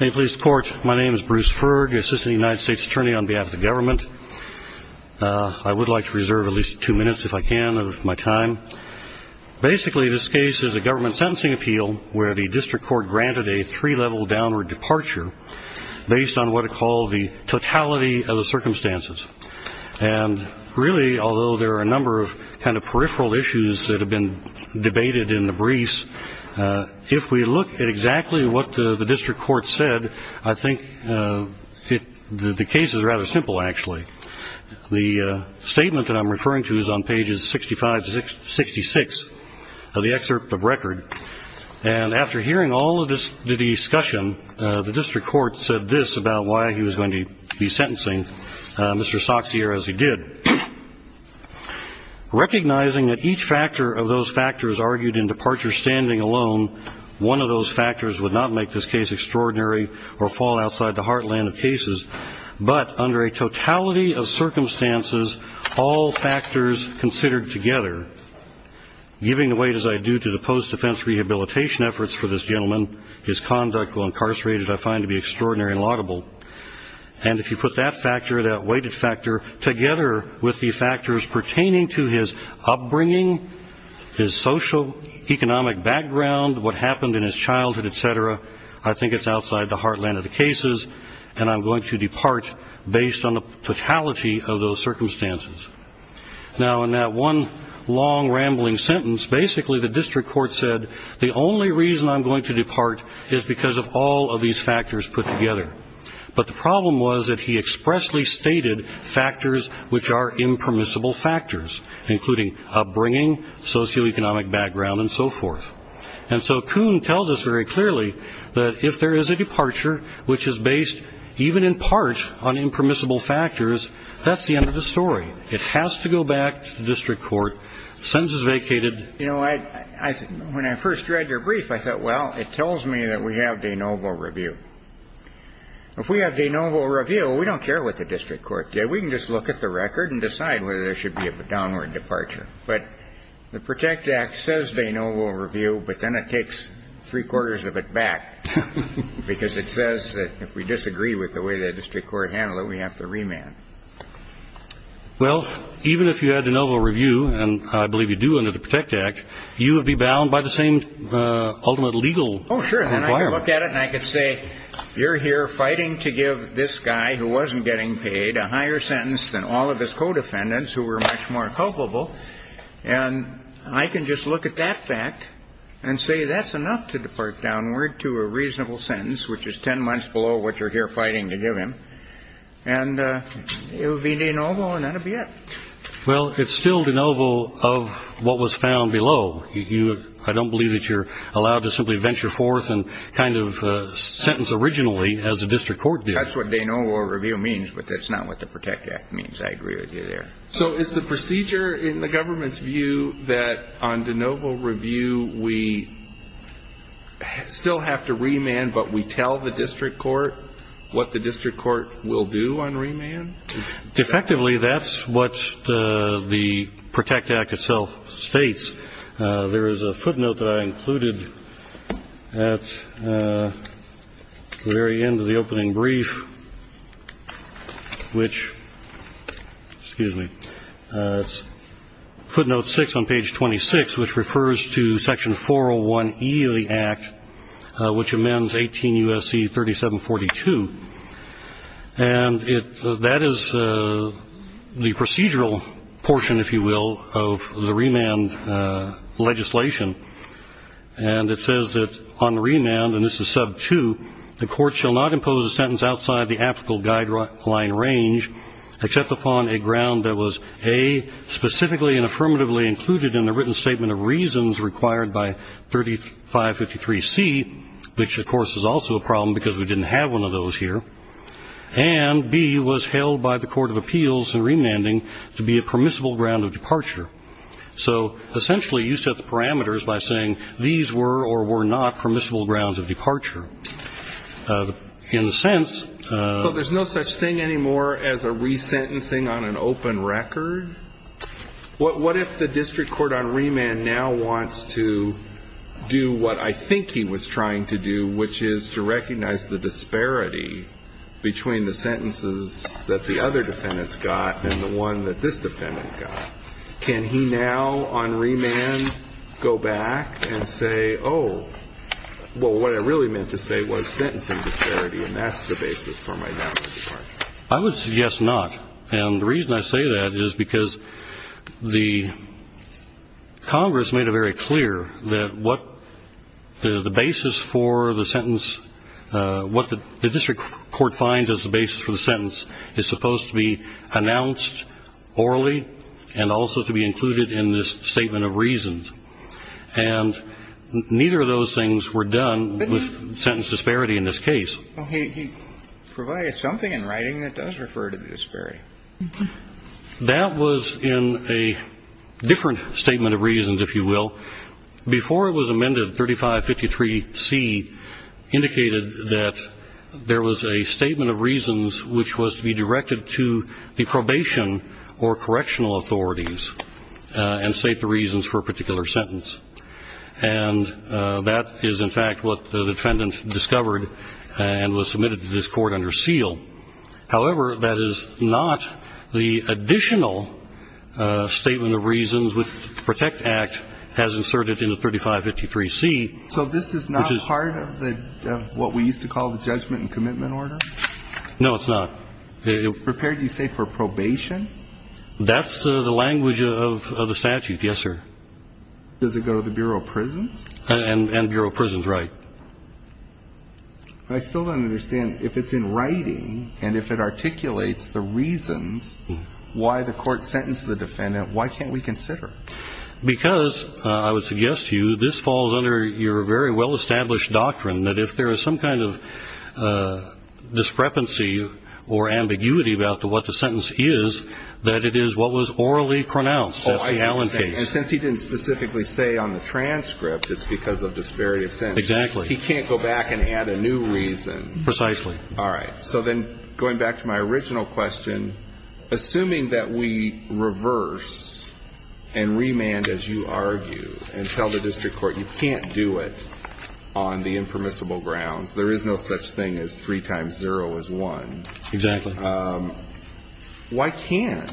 In police court, my name is Bruce Ferg, Assistant United States Attorney on behalf of the government. I would like to reserve at least two minutes, if I can, of my time. Basically this case is a government sentencing appeal where the district court granted a three-level downward departure based on what it called the totality of the circumstances. And really, although there are a number of kind of peripheral issues that have been debated in the briefs, if we look at exactly what the district court said, I think the case is rather simple, actually. The statement that I'm referring to is on pages 65 to 66 of the excerpt of record. And after hearing all of the discussion, the district court said this about why he was going to be sentencing Mr. Soxier, as he did, recognizing that each factor of those factors argued in departure standing alone, one of those factors would not make this case extraordinary or fall outside the heartland of cases. But under a totality of circumstances, all factors considered together, giving the weight as I do to the post-defense rehabilitation efforts for this gentleman, his conduct while incarcerated I find to be extraordinary and laudable. And if you put that factor, that weighted factor, together with the factors pertaining to his upbringing, his socioeconomic background, what happened in his childhood, et cetera, I think it's outside the heartland of the cases, and I'm going to depart based on the totality of those circumstances. Now, in that one long, rambling sentence, basically the district court said the only reason I'm going to depart is because of all of these factors put together. But the problem was that he expressly stated factors which are impermissible factors, including upbringing, socioeconomic background, and so forth. And so Kuhn tells us very clearly that if there is a departure which is based even in part on impermissible factors, that's the end of the story. It has to go back to the district court, sentence is vacated. You know, when I first read your brief, I thought, well, it tells me that we have de novo review. If we have de novo review, we don't care what the district court did. We can just look at the record and decide whether there should be a downward departure. But the PROTECT Act says de novo review, but then it takes three-quarters of it back, because it says that if we disagree with the way the district court handled it, we have to remand. Well, even if you had de novo review, and I believe you do under the PROTECT Act, you would be bound by the same ultimate legal requirement. Oh, sure. And I could look at it and I could say, you're here fighting to give this guy who wasn't getting paid a higher sentence than all of his co-defendants who were much more culpable. And I can just look at that fact and say that's enough to depart downward to a reasonable sentence, which is 10 months below what you're here fighting to give him. And it would be de novo, and that would be it. Well, it's still de novo of what was found below. I don't believe that you're allowed to simply venture forth and kind of sentence originally as a district court did. That's what de novo review means, but that's not what the PROTECT Act means. I agree with you there. So is the procedure in the government's view that on de novo review, we still have to on remand? Effectively, that's what the PROTECT Act itself states. There is a footnote that I included at the very end of the opening brief, which, excuse me, footnote 6 on page 26, which refers to section 401E of the act, which amends 18 U.S.C. 3742. And that is the procedural portion, if you will, of the remand legislation. And it says that on remand, and this is sub 2, the court shall not impose a sentence outside the applicable guideline range except upon a ground that was A, specifically and affirmatively included in the written statement of reasons required by 3553C, which, of course, is also a problem because we didn't have one of those here, and B, was held by the Court of Appeals in remanding to be a permissible ground of departure. So essentially, you set the parameters by saying these were or were not permissible grounds of departure. In a sense... But there's no such thing anymore as a resentencing on an open record? What if the district court on remand now wants to do what I think he was trying to do, which is to recognize the disparity between the sentences that the other defendants got and the one that this defendant got? Can he now on remand go back and say, oh, well, what I really meant to say was sentencing disparity, and that's the basis for my damage part? I would suggest not. And the reason I say that is because the Congress made it very clear that what the basis for the sentence, what the district court finds as the basis for the sentence is supposed to be announced orally and also to be included in this statement of reasons. And neither of those things were done with sentence disparity in this case. Well, he provided something in writing that does refer to the disparity. That was in a different statement of reasons, if you will. Before it was amended, 3553C indicated that there was a statement of reasons which was to be directed to the probation or correctional authorities and state the reasons for a particular sentence. And that is, in fact, what the defendant discovered and was submitted to this court under seal. However, that is not the additional statement of reasons which the PROTECT Act has inserted in the 3553C, which is So this is not part of what we used to call the judgment and commitment order? No, it's not. It prepared, you say, for probation? That's the language of the statute, yes, sir. Does it go to the Bureau of Prisons? And Bureau of Prisons, right. But I still don't understand, if it's in writing and if it articulates the reasons why the court sentenced the defendant, why can't we consider? Because, I would suggest to you, this falls under your very well-established doctrine that if there is some kind of discrepancy or ambiguity about what the sentence is, that it is what was orally pronounced at the Allen case. Oh, I see what you're saying. And since he didn't specifically say on the transcript, it's because of disparity of sentence. Exactly. He can't go back and add a new reason. Precisely. All right. So then, going back to my original question, assuming that we reverse and remand, as you argue, and tell the district court you can't do it on the impermissible grounds, there is no such thing as 3 times 0 is 1. Exactly. Why can't,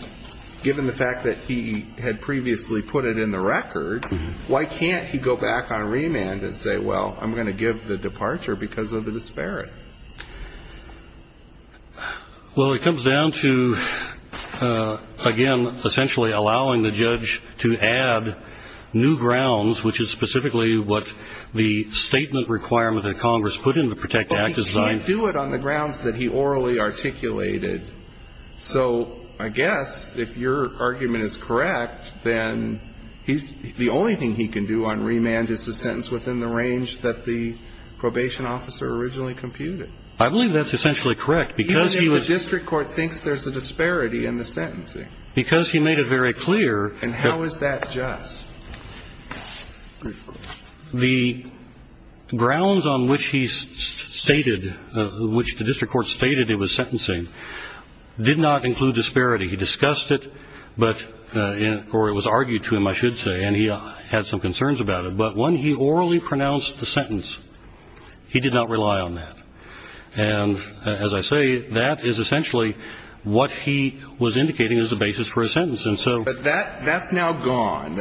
given the fact that he had previously put it in the record, why can't he go back on remand and say, well, I'm going to give the departure because of the disparity? Well, it comes down to, again, essentially allowing the judge to add new grounds, which is specifically what the statement requirement that Congress put in the Protect Act is designed for. Well, he can't do it on the grounds that he orally articulated. So I guess, if your argument is correct, then he's the only thing he can do on remand is to sentence within the range that the probation officer originally computed. I believe that's essentially correct. Even if the district court thinks there's a disparity in the sentencing. Because he made it very clear. And how is that just? The grounds on which he stated, which the district court stated it was sentencing, did not include disparity. He discussed it, or it was argued to him, I should say, and he had some concerns about it. But when he orally pronounced the sentence, he did not rely on that. And as I say, that is essentially what he was indicating as the basis for his sentence. And so that's now gone.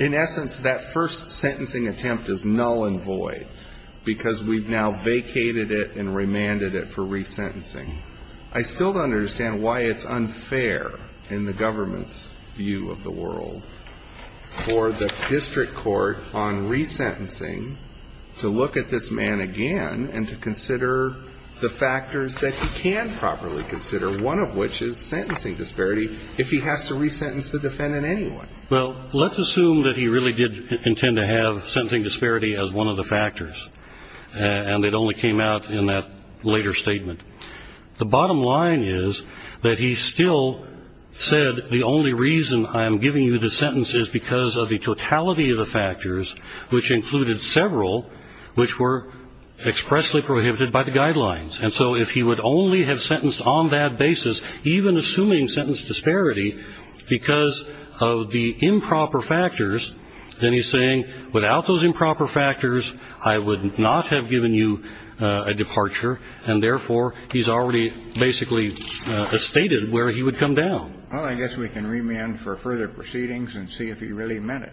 In essence, that first sentencing attempt is null and void. Because we've now vacated it and remanded it for resentencing. I still don't understand why it's unfair, in the government's view of the world, for the district court on resentencing to look at this man again and to consider the factors that he can properly consider, one of which is sentencing disparity, if he has to resentence the defendant anyway. Well, let's assume that he really did intend to have sentencing disparity as one of the factors. And it only came out in that later statement. The bottom line is that he still said, the only reason I am giving you this sentence is because of the totality of the factors, which included several, which were expressly prohibited by the guidelines. And so if he would only have sentenced on that basis, even assuming sentence disparity, because of the improper factors, then he's saying, without those improper factors, I would not have given you a departure. And therefore, he's already basically stated where he would come down. Well, I guess we can remand for further proceedings and see if he really meant it.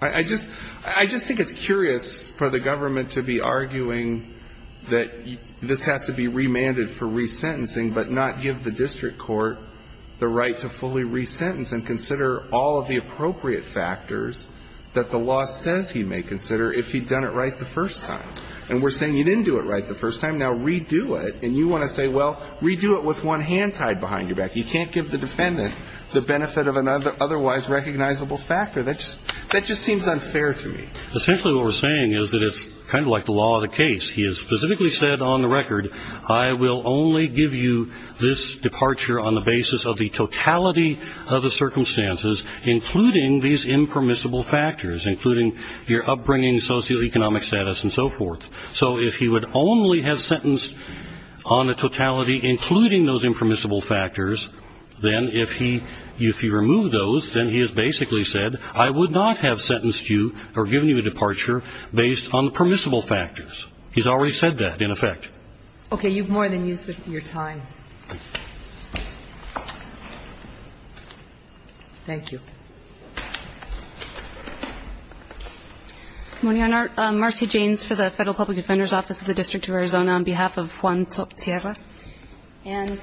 I just think it's curious for the government to be arguing that this has to be remanded for resentencing, but not give the district court the right to fully resentence and consider all of the appropriate factors that the law says he may consider if he'd done it right the first time. And we're saying you didn't do it right the first time, now redo it. And you want to say, well, redo it with one hand tied behind your back. You can't give the defendant the benefit of an otherwise recognizable factor. That just seems unfair to me. Essentially what we're saying is that it's kind of like the law of the case. He has specifically said on the record, I will only give you this departure on the basis of the totality of the circumstances, including these impermissible factors, including your upbringing, socioeconomic status, and so forth. So if he would only have sentenced on the totality, including those impermissible factors, then if he removed those, then he has basically said, I would not have sentenced you or given you a departure based on the permissible factors. He's already said that, in effect. Okay. You've more than used your time. Thank you. Marcy Janes for the Federal Public Defender's Office of the District of Arizona on behalf of Juan Tsok-Cierra.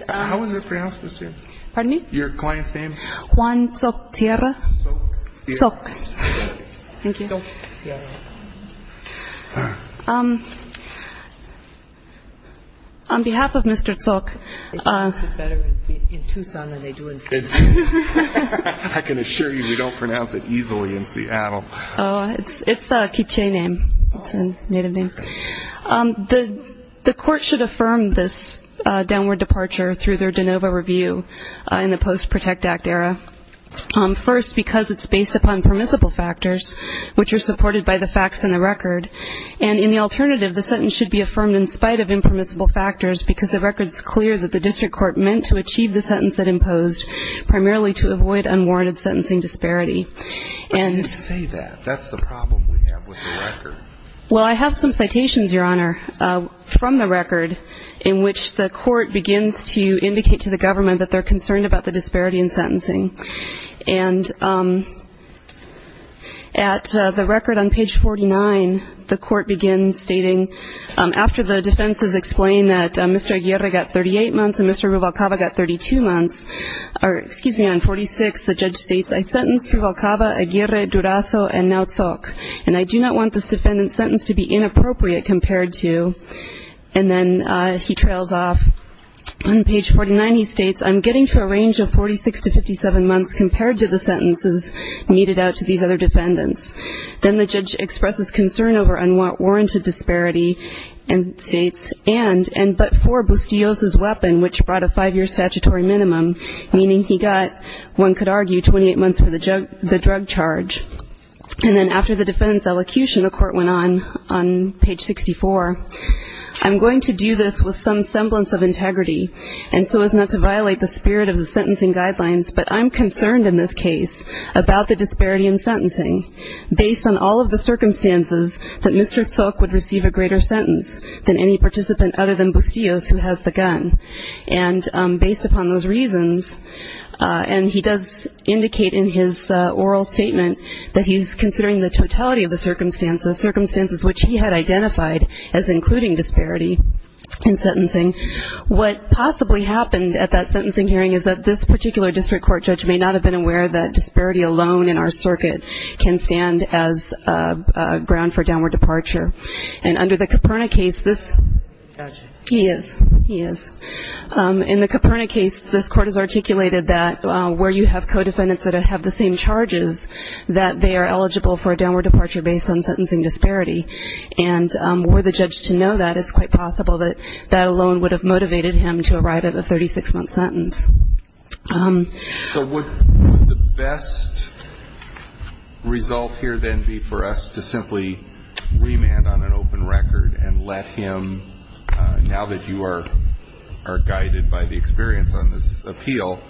How was it pronounced, Ms. Janes? Pardon me? Your client's name? Juan Tsok-Cierra. Tsok-Cierra. Tsok. Thank you. On behalf of Mr. Tsok. They pronounce it better in Tucson than they do in Texas. I can assure you, we don't pronounce it easily in Seattle. Oh, it's a K'iche name. It's a native name. The court should affirm this downward departure through their de novo review in the Post-Protect Act era. First, because it's based upon permissible factors, which are supported by the facts in the record. And in the alternative, the sentence should be affirmed in spite of impermissible factors because the record's clear that the district court meant to achieve the sentence it imposed, primarily to avoid unwarranted sentencing disparity. Why do you say that? That's the problem we have with the record. Well, I have some citations, Your Honor, from the record in which the court begins to indicate to the government that they're concerned about the disparity in sentencing. And at the record on page 49, the court begins stating, after the defenses explain that Mr. Valkava got 32 months, or excuse me, on 46, the judge states, I sentenced Mr. Valkava, Aguirre, Durazo, and now Tsok. And I do not want this defendant's sentence to be inappropriate compared to, and then he trails off. On page 49, he states, I'm getting to a range of 46 to 57 months compared to the sentences meted out to these other defendants. Then the judge expresses concern over unwarranted disparity and states, and, and but for Bustios' weapon, which brought a five-year statutory minimum, meaning he got, one could argue, 28 months for the drug charge. And then after the defendant's elocution, the court went on, on page 64, I'm going to do this with some semblance of integrity and so as not to violate the spirit of the sentencing guidelines, but I'm concerned in this case about the disparity in sentencing based on all of the circumstances that Mr. Tsok would receive a greater sentence than any participant other than Bustios who has the gun. And based upon those reasons, and he does indicate in his oral statement that he's considering the totality of the circumstances, circumstances which he had identified as including disparity in sentencing. What possibly happened at that sentencing hearing is that this particular district court judge may not have been aware that disparity alone in our circuit can stand as a ground for downward departure. And under the Caperna case, this, he is, he is. In the Caperna case, this court has articulated that where you have co-defendants that have the same charges, that they are eligible for a downward departure based on sentencing disparity. And were the judge to know that, it's quite possible that that alone would have motivated him to arrive at a 36-month sentence. So would the best result here then be for us to simply remand on an open record and let him, now that you are, are guided by the experience on this appeal,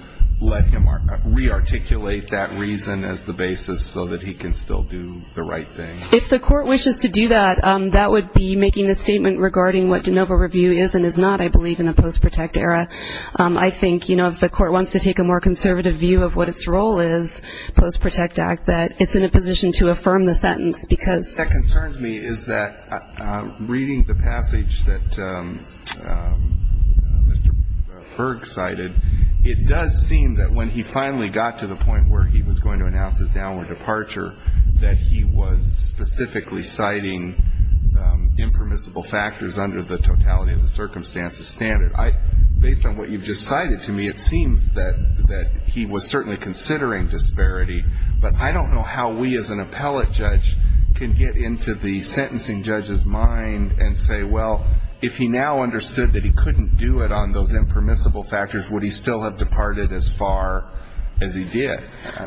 let him re-articulate that reason as the basis so that he can still do the right thing? If the court wishes to do that, that would be making a statement regarding what de novo review is and is not, I believe, in the post-protect era. I think, you know, if the court wants to take a more conservative view of what its role is post-protect act, that it's in a position to affirm the sentence because. What concerns me is that reading the passage that Mr. Berg cited, it does seem that when he finally got to the point where he was going to announce his downward departure, that he was specifically citing impermissible factors under the totality of the circumstances standard. Based on what you've just cited to me, it seems that he was certainly considering disparity. But I don't know how we as an appellate judge can get into the sentencing judge's mind and say, well, if he now understood that he couldn't do it on those impermissible factors, would he still have departed as far as he did?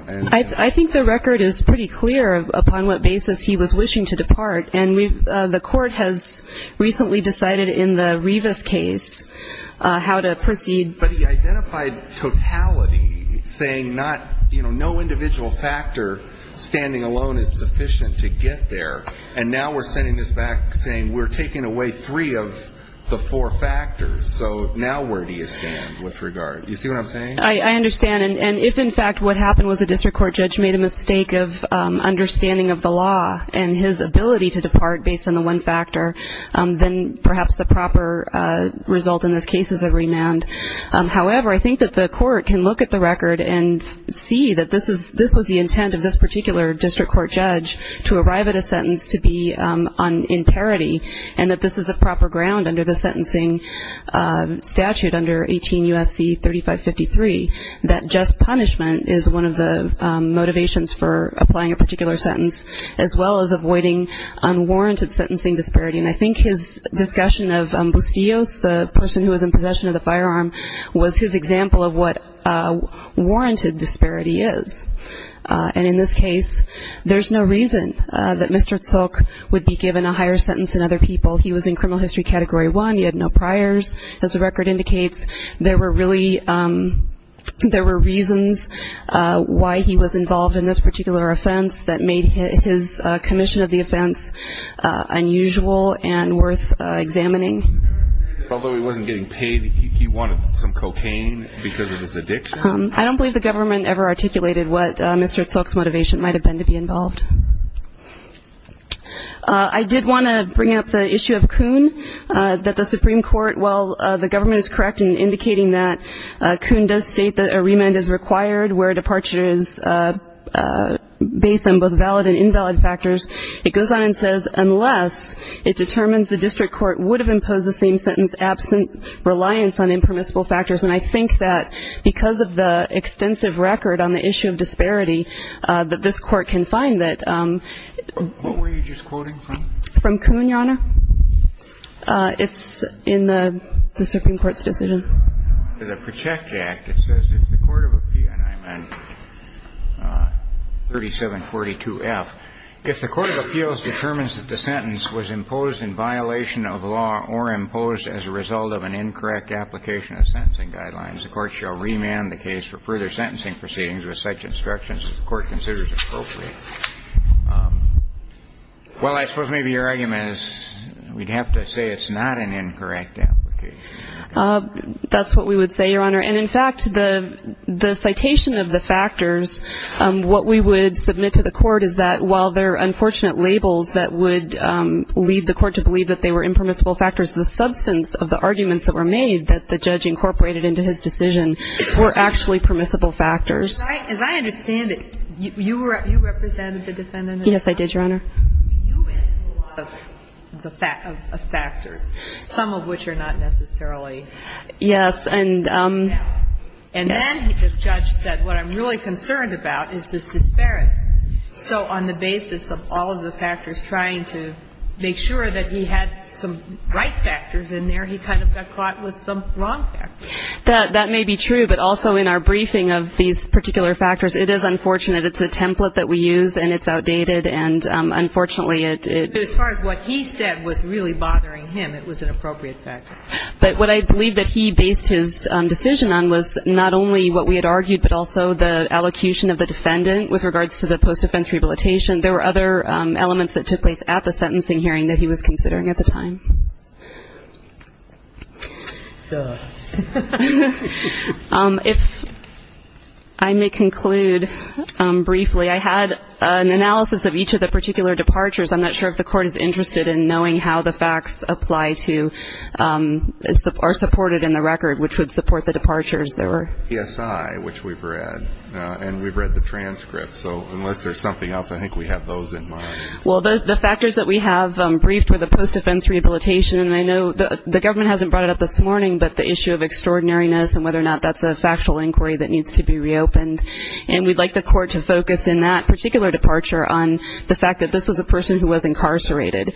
I think the record is pretty clear upon what basis he was wishing to depart. And the court has recently decided in the Rivas case how to proceed. But he identified totality, saying not, you know, no individual factor standing alone is sufficient to get there. And now we're sending this back saying we're taking away three of the four factors. So now where do you stand with regard? You see what I'm saying? I understand. And if, in fact, what happened was a district court judge made a mistake of understanding of the law and his ability to depart based on the one factor, then perhaps the proper result in this case is a remand. However, I think that the court can look at the record and see that this was the intent of this particular district court judge to arrive at a sentence to be on imparity and that this is the proper ground under the sentencing statute under 18 U.S.C. 3553, that just as well as avoiding unwarranted sentencing disparity. And I think his discussion of Bustillos, the person who was in possession of the firearm, was his example of what warranted disparity is. And in this case, there's no reason that Mr. Tzolk would be given a higher sentence than other people. He was in criminal history category one. He had no priors. As the record indicates, there were reasons why he was involved in this particular offense that made his commission of the offense unusual and worth examining. Although he wasn't getting paid, he wanted some cocaine because of his addiction. I don't believe the government ever articulated what Mr. Tzolk's motivation might have been to be involved. I did want to bring up the issue of Kuhn, that the Supreme Court, while the government is correct in indicating that Kuhn does state that a remand is required where departure is based on both valid and invalid factors, it goes on and says, unless it determines the district court would have imposed the same sentence absent reliance on impermissible factors. And I think that because of the extensive record on the issue of disparity that this Court can find that. What were you just quoting from? From Kuhn, Your Honor. It's in the Supreme Court's decision. To the Project Act, it says, if the court of appeals, and I'm on 3742F, if the court of appeals determines that the sentence was imposed in violation of law or imposed as a result of an incorrect application of sentencing guidelines, the Court shall remand the case for further sentencing proceedings with such instructions as the Court considers appropriate. Well, I suppose maybe your argument is we'd have to say it's not an incorrect application. That's what we would say, Your Honor. And in fact, the citation of the factors, what we would submit to the Court is that while there are unfortunate labels that would lead the Court to believe that they were impermissible factors, the substance of the arguments that were made that the judge incorporated into his decision were actually permissible factors. As I understand it, you represented the defendant? Yes, I did, Your Honor. You mentioned a lot of factors, some of which are not necessarily impermissible. Yes. And then the judge said, what I'm really concerned about is this disparity. So on the basis of all of the factors, trying to make sure that he had some right factors in there, he kind of got caught with some wrong factors. That may be true, but also in our briefing of these particular factors, it is unfortunate. It's a template that we use, and it's outdated. And unfortunately, it — As far as what he said was really bothering him, it was an appropriate factor. But what I believe that he based his decision on was not only what we had argued, but also the allocution of the defendant with regards to the post-defense rehabilitation. There were other elements that took place at the sentencing hearing that he was considering at the time. If I may conclude briefly, I had an analysis of each of the particular departures. I'm not sure if the Court is interested in knowing how the facts apply to — are supported in the record, which would support the departures. There were — PSI, which we've read, and we've read the transcript. So unless there's something else, I think we have those in mind. Well, the factors that we have briefed were the post-defense rehabilitation. And I know the government hasn't brought it up this morning, but the issue of extraordinariness and whether or not that's a factual inquiry that needs to be reopened. And we'd like the Court to focus in that particular departure on the fact that this was a person who was incarcerated.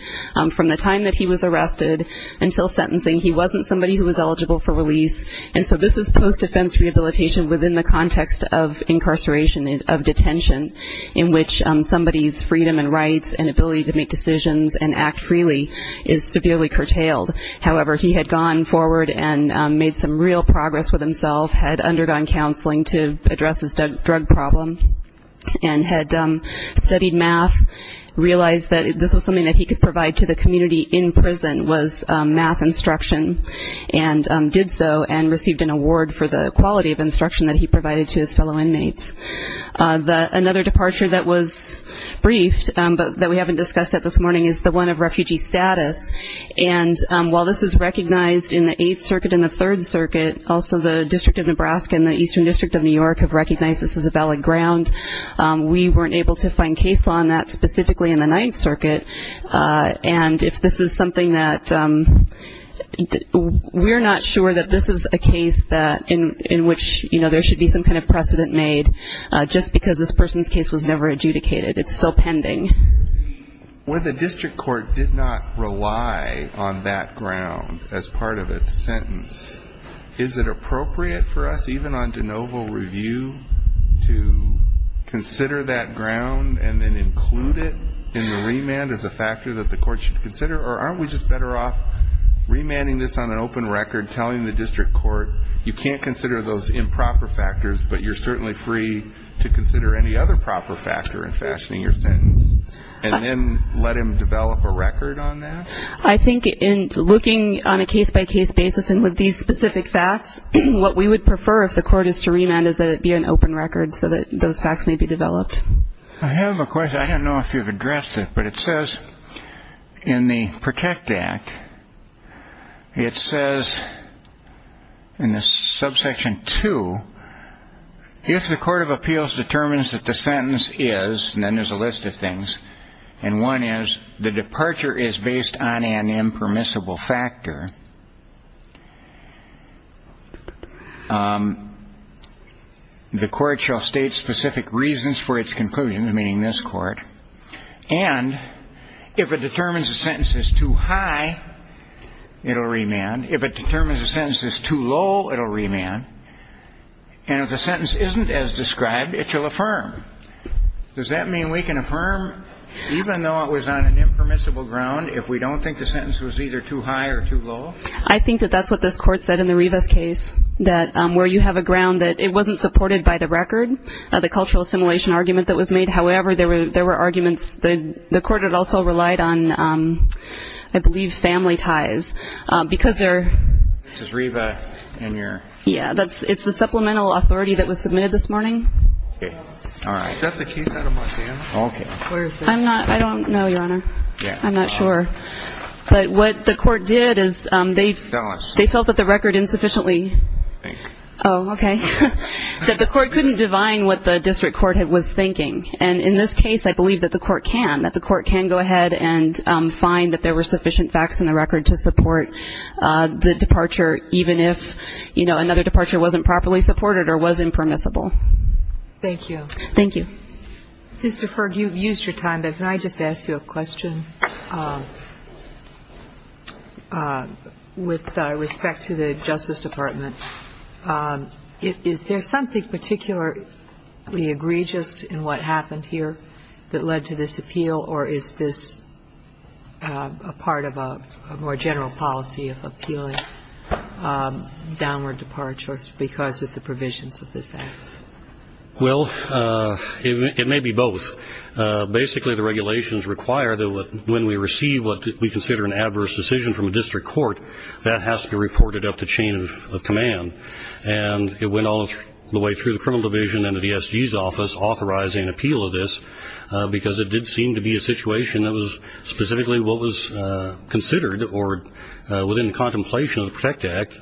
From the time that he was arrested until sentencing, he wasn't somebody who was eligible for release. And so this is post-defense rehabilitation within the context of incarceration, of detention, in which somebody's freedom and rights and ability to make decisions and act freely is severely curtailed. However, he had gone forward and made some real progress with himself, had undergone counseling to address his drug problem, and had studied math, realized that this was something that he could provide to the community in prison was math instruction, and did so and received an award for the quality of instruction that he provided to his fellow inmates. Another departure that was briefed, but that we haven't discussed yet this morning, is the one of refugee status. And while this is recognized in the Eighth Circuit and the Third Circuit, also the District of Nebraska and the Eastern District of New York have recognized this as a valid ground. We weren't able to find case law on that specifically in the Ninth Circuit. And if this is something that we're not sure that this is a case in which there should be some kind of precedent made just because this person's case was never adjudicated. It's still pending. When the district court did not rely on that ground as part of its sentence, is it appropriate for us, even on de novo review, to consider that ground and then include it in the remand as a factor that the court should consider? Or aren't we just better off remanding this on an open record, telling the district court, you can't consider those improper factors, but you're certainly free to consider any other proper factor in fashioning your sentence? And then let him develop a record on that? I think in looking on a case-by-case basis and with these specific facts, what we would prefer if the court is to remand is that it be an open record so that those facts may be developed. I have a question. I don't know if you've addressed it, but it says in the Protect Act, it says in this subsection 2, if the court of appeals determines that the sentence is, and then there's a one is, the departure is based on an impermissible factor, the court shall state specific reasons for its conclusion, meaning this court. And if it determines the sentence is too high, it'll remand. If it determines the sentence is too low, it'll remand. And if the sentence isn't as described, it shall affirm. Does that mean we can affirm, even though it was on an impermissible ground, if we don't think the sentence was either too high or too low? I think that that's what this court said in the Rivas case, that where you have a ground that it wasn't supported by the record, the cultural assimilation argument that was made. However, there were arguments. The court had also relied on, I believe, family ties because they're... This is Riva and you're... Yeah, it's the supplemental authority that was submitted this morning. Okay, all right. Is that the case out of Montana? Okay. I'm not, I don't know, Your Honor. I'm not sure. But what the court did is they felt that the record insufficiently... Oh, okay. That the court couldn't divine what the district court was thinking. And in this case, I believe that the court can, that the court can go ahead and find that there were sufficient facts in the record to support the departure, even if, you know, another departure wasn't properly supported or was impermissible. Thank you. Thank you. Mr. Ferg, you've used your time, but can I just ask you a question with respect to the Justice Department? Is there something particularly egregious in what happened here that led to this appeal? Or is this a part of a more general policy of appealing downward departures because of the provisions of this act? Well, it may be both. Basically, the regulations require that when we receive what we consider an adverse decision from a district court, that has to be reported up the chain of command. And it went all the way through the criminal division and the DSG's office authorizing appeal of this because it did seem to be a situation that was specifically what was considered or within the contemplation of the Protect Act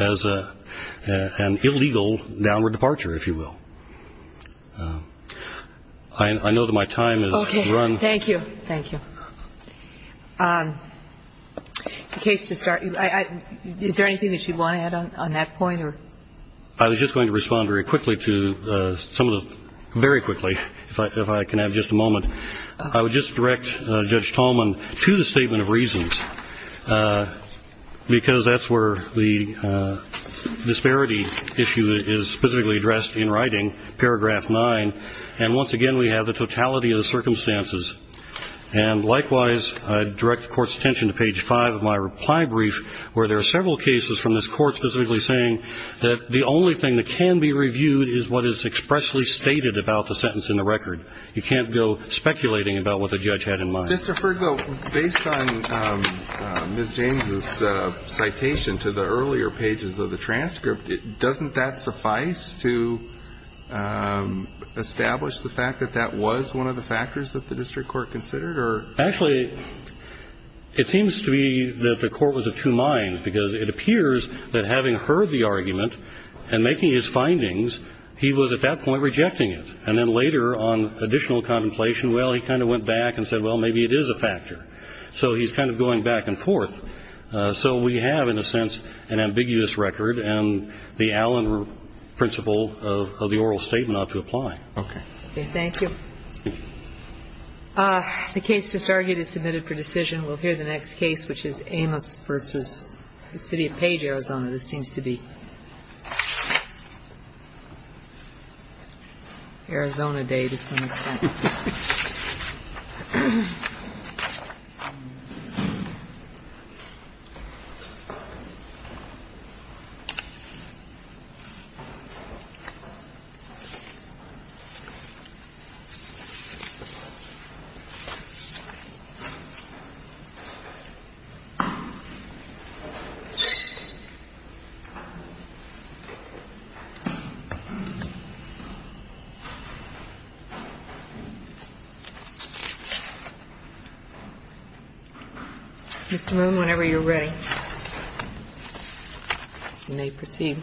as an illegal downward departure, if you will. I know that my time has run. Thank you. Thank you. In case to start, is there anything that you want to add on that point or? I was just going to respond very quickly to some of the, very quickly, if I can have just a moment. I would just direct Judge Tallman to the statement of reasons because that's where the paragraph nine. And once again, we have the totality of the circumstances. And likewise, I direct the court's attention to page five of my reply brief, where there are several cases from this court specifically saying that the only thing that can be reviewed is what is expressly stated about the sentence in the record. You can't go speculating about what the judge had in mind. Mr. Fergo, based on Ms. James's citation to the earlier pages of the transcript, doesn't that suffice to establish the fact that that was one of the factors that the district court considered or? Actually, it seems to me that the court was of two minds because it appears that having heard the argument and making his findings, he was at that point rejecting it. And then later on additional contemplation, well, he kind of went back and said, well, maybe it is a factor. So he's kind of going back and forth. So we have, in a sense, an ambiguous record and the Allen principle of the oral statement ought to apply. Okay. Thank you. The case just argued is submitted for decision. We'll hear the next case, which is Amos versus the city of Page, Arizona. This seems to be Arizona day to some extent. Whenever you're ready, you may proceed.